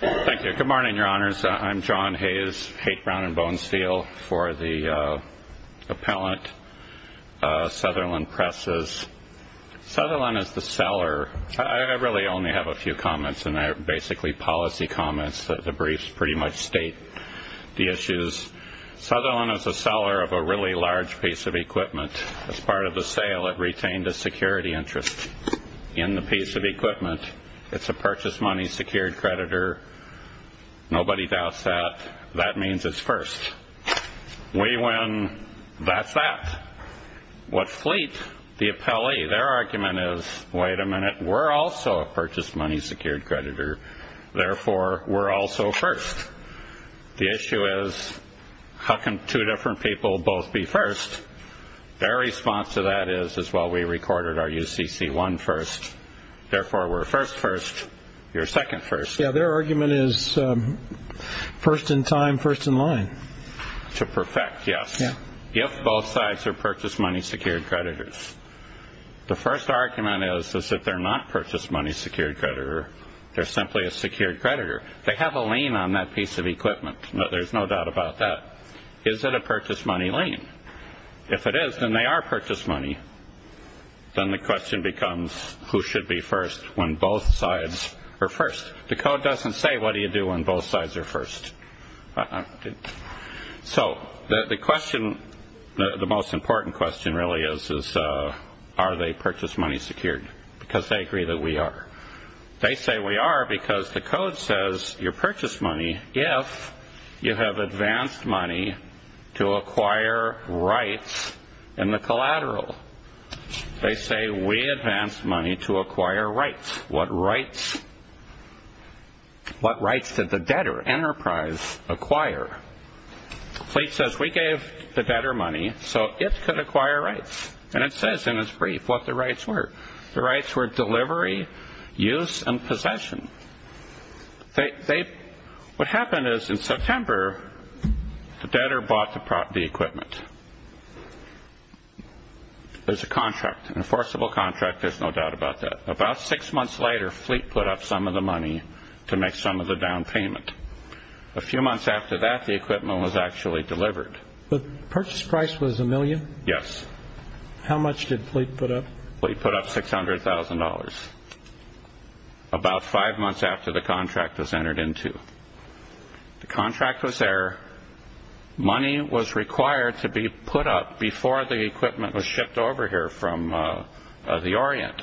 Thank you. Good morning, your honors. I'm John Hayes, Haight, Brown and Bonesteel, for the appellant, Sutherland Presses. Sutherland is the seller. I really only have a few comments, and they're basically policy comments. The briefs pretty much state the issues. Sutherland is a seller of a really large piece of equipment. As part of the sale, it retained a security interest in the equipment. It's a purchase money secured creditor. Nobody doubts that. That means it's first. We win, that's that. What Fleet, the appellee, their argument is, wait a minute, we're also a purchase money secured creditor, therefore we're also first. The issue is, how can two different people both be first? Their argument is, first in time, first in line. To perfect, yes. If both sides are purchase money secured creditors. The first argument is, is that they're not purchase money secured creditor. They're simply a secured creditor. They have a lien on that piece of equipment. There's no doubt about that. Is it a purchase money lien? If it is, then they are purchase money. Then the question becomes, who should be first when both sides are first? The code doesn't say what do you do when both sides are first. So the question, the most important question really is, is are they purchase money secured? Because they agree that we are. They say we are because the code says your purchase money, if you have advanced money, to acquire rights in the collateral. They say we advanced money to acquire rights. What rights? What rights did the debtor enterprise acquire? Fleet says we gave the debtor money so it could acquire rights. And it says in its brief what the rights were. The rights were delivery, use, and possession. What happened is, in September, the debtor bought the equipment. There's a contract, an enforceable contract, there's no doubt about that. About six months later, Fleet put up some of the money to make some of the down payment. A few months after that, the equipment was actually delivered. The purchase price was a million? Yes. How much did Fleet put up? Fleet put up $600,000. About five months after the contract was entered into. The contract was there, money was required to be put up before the equipment was shipped over here from the Orient.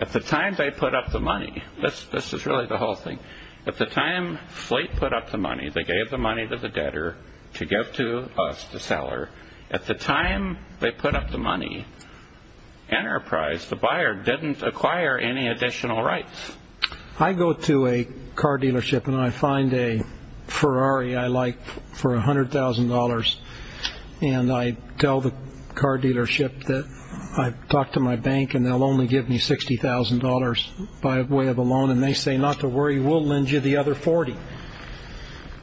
At the time they put up the money, this is really the whole thing, at the time Fleet put up the money, they gave the money to the buyer didn't acquire any additional rights. I go to a car dealership and I find a Ferrari I like for $100,000 and I tell the car dealership that I've talked to my bank and they'll only give me $60,000 by way of a loan and they say not to worry we'll lend you the other $40,000.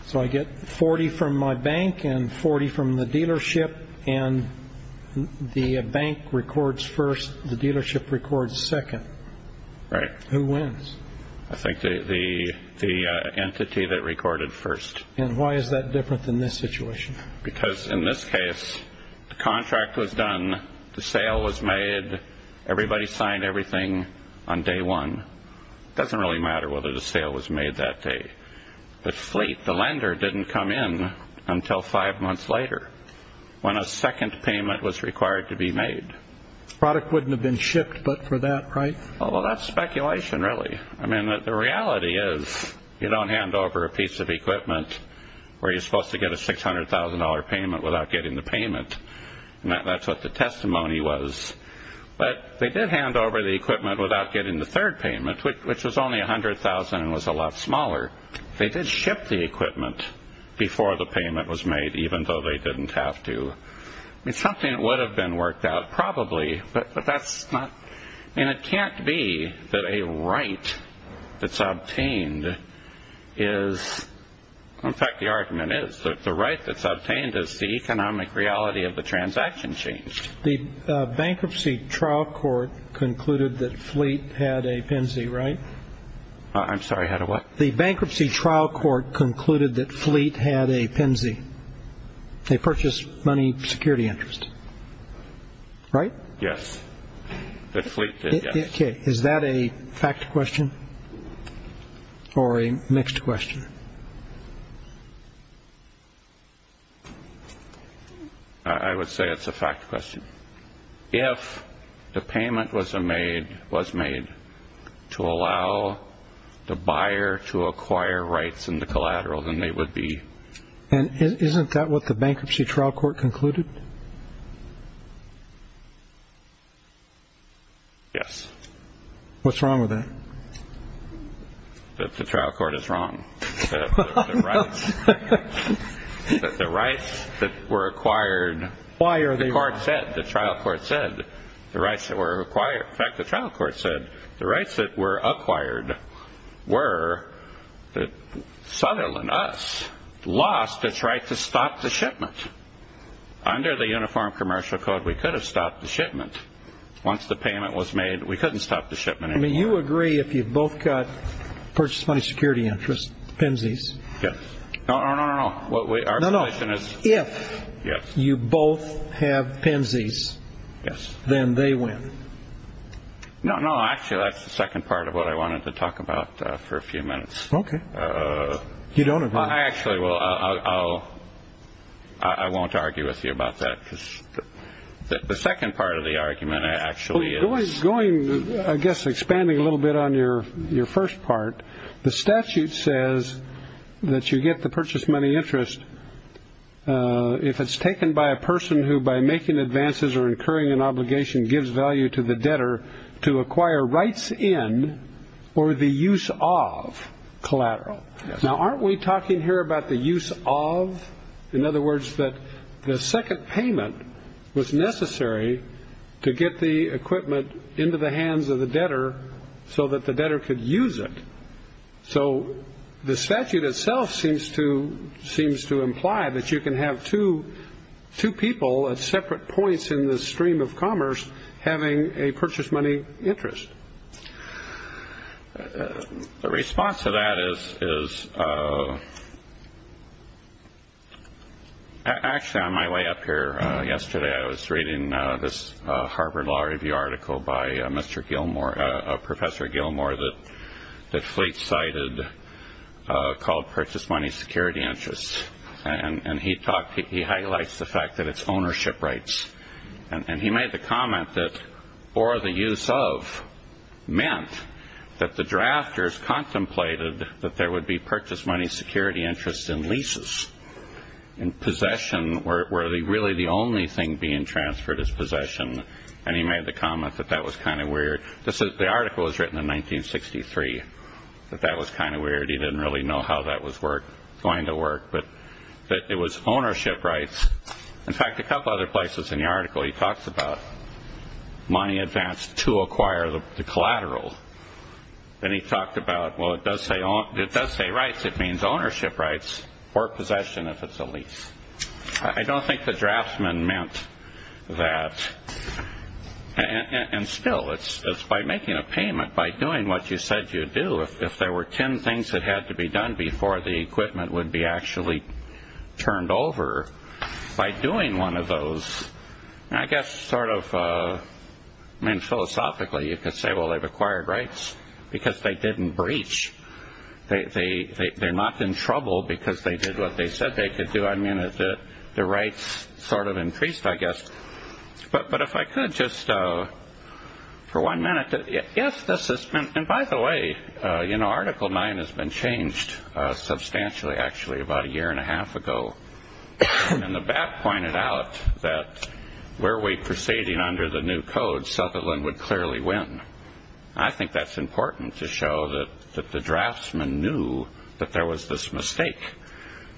So I get $40,000 from my bank and $40,000 from the dealership and the bank records first, the dealership records second. Right. Who wins? I think the entity that recorded first. And why is that different than this situation? Because in this case the contract was done, the sale was made, everybody signed everything on day one. It doesn't really matter whether the sale was made that day. The Fleet, the lender, didn't come in until five months later when a second payment was required to be made. Product wouldn't have been shipped but for that price? Well that's speculation really. I mean the reality is you don't hand over a piece of equipment where you're supposed to get a $600,000 payment without getting the payment and that's what the testimony was. But they did hand over the equipment without getting the third payment which was only $100,000 and was a lot smaller. They did ship the payment was made even though they didn't have to. It's something that would have been worked out probably but that's not, I mean it can't be that a right that's obtained is, in fact the argument is that the right that's obtained is the economic reality of the transaction changed. The bankruptcy trial court concluded that Fleet had a PNC right? I'm sorry had a what? The bankruptcy trial court concluded that Fleet had a PNC. They purchased money security interest right? Yes. Is that a fact question or a mixed question? I would say it's a fact question. If the payment was made to allow the buyer to acquire rights in the collateral then they would be. And isn't that what the bankruptcy trial court concluded? Yes. What's wrong with that? That the trial court is wrong. That the rights that were acquired. Why are they wrong? The trial court said the rights that were acquired, in fact the trial court said the rights that were acquired were that Sutherland, us, lost its right to stop the shipment. Under the Uniform Commercial Code we could have stopped the shipment. Once the payment was made we couldn't stop the shipment anymore. I mean you agree if you've both got purchased money security interest, PNCs? Yes. No, no, no, no, our position is. If you both have PNCs, then they win. No, no, actually that's the second part of what I wanted to talk about for a few minutes. Okay. You don't agree? I actually will. I won't argue with you about that. The second part of the argument actually is. Going, I guess expanding a little bit on your first part, the statute says that you get the purchased money interest if it's taken by a person who by making advances or incurring an obligation gives value to the debtor to acquire rights in or the use of collateral. Now aren't we talking here about the use of? In other words, that the second payment was necessary to get the equipment into the hands of the debtor so that the debtor could use it. So the statute itself seems to imply that you can have two people at separate points in the stream of commerce having a purchased money interest. The response to that is, actually on my way up here yesterday I was reading this Harvard Law Review article by Mr. Gilmore, Professor Gilmore that Fleet cited called Purchased Money Security Interest. And he talked, he highlights the fact that it's ownership rights. And he made the comment that or the use of meant that the drafters contemplated that there would be purchased money security interest in leases, in possession, where really the only thing being transferred is possession. And he made the comment that that was kind of weird. The article was written in 1963, that that was kind of weird. He didn't really know how that was going to work. But it was ownership rights. In fact, a couple other places in the article he talks about money advanced to acquire the collateral. And he talked about, well, it does say rights. It means ownership rights or possession if it's a lease. I don't think the draftsman meant that. And still, it's by making a payment, by doing what you said you'd do, if there were 10 things that had to be done before the equipment would be actually turned over, by doing one of those, I guess sort of, I mean, philosophically, you could say, well, they've acquired rights because they didn't breach. They're not in trouble because they did what they said they could do. I mean, the rights sort of increased, I guess. But if I could just for one minute, yes, this has been, and by the way, you know, Article 9 has been changed substantially, actually, about a year and a half ago. And the BAP pointed out that were we proceeding under the new code, Sutherland would clearly win. I think that's important to show that the draftsman knew that there was this mistake.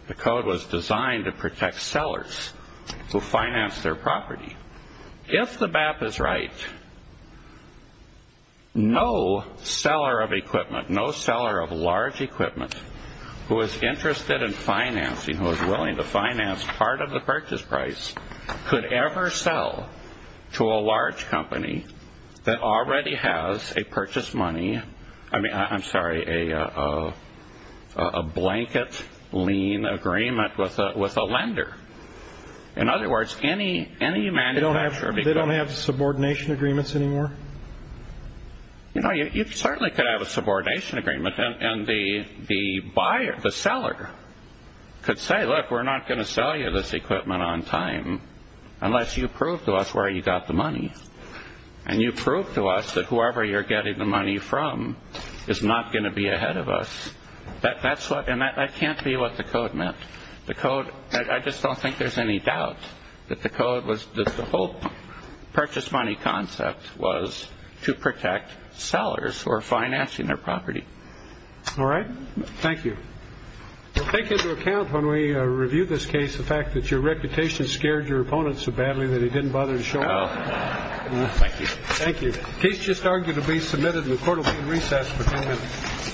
The code was designed to protect sellers who financed their property. If the BAP is right, no seller of equipment, who is interested in financing, who is willing to finance part of the purchase price, could ever sell to a large company that already has a purchase money, I mean, I'm sorry, a blanket lien agreement with a lender. In other words, any manufacturer... They don't have subordination agreements anymore? You know, you certainly could have a subordination agreement, and the buyer, the seller, could say, look, we're not going to sell you this equipment on time unless you prove to us where you got the money. And you prove to us that whoever you're getting the money from is not going to be ahead of us. And that can't be what the code meant. I just don't think there's any doubt that the whole purchase money concept was to protect sellers who are financing their property. All right. Thank you. Take into account when we review this case the fact that your reputation scared your opponent so badly that he didn't bother to show up. Thank you. Thank you. Case just arguably submitted and the court will be in recess for two minutes.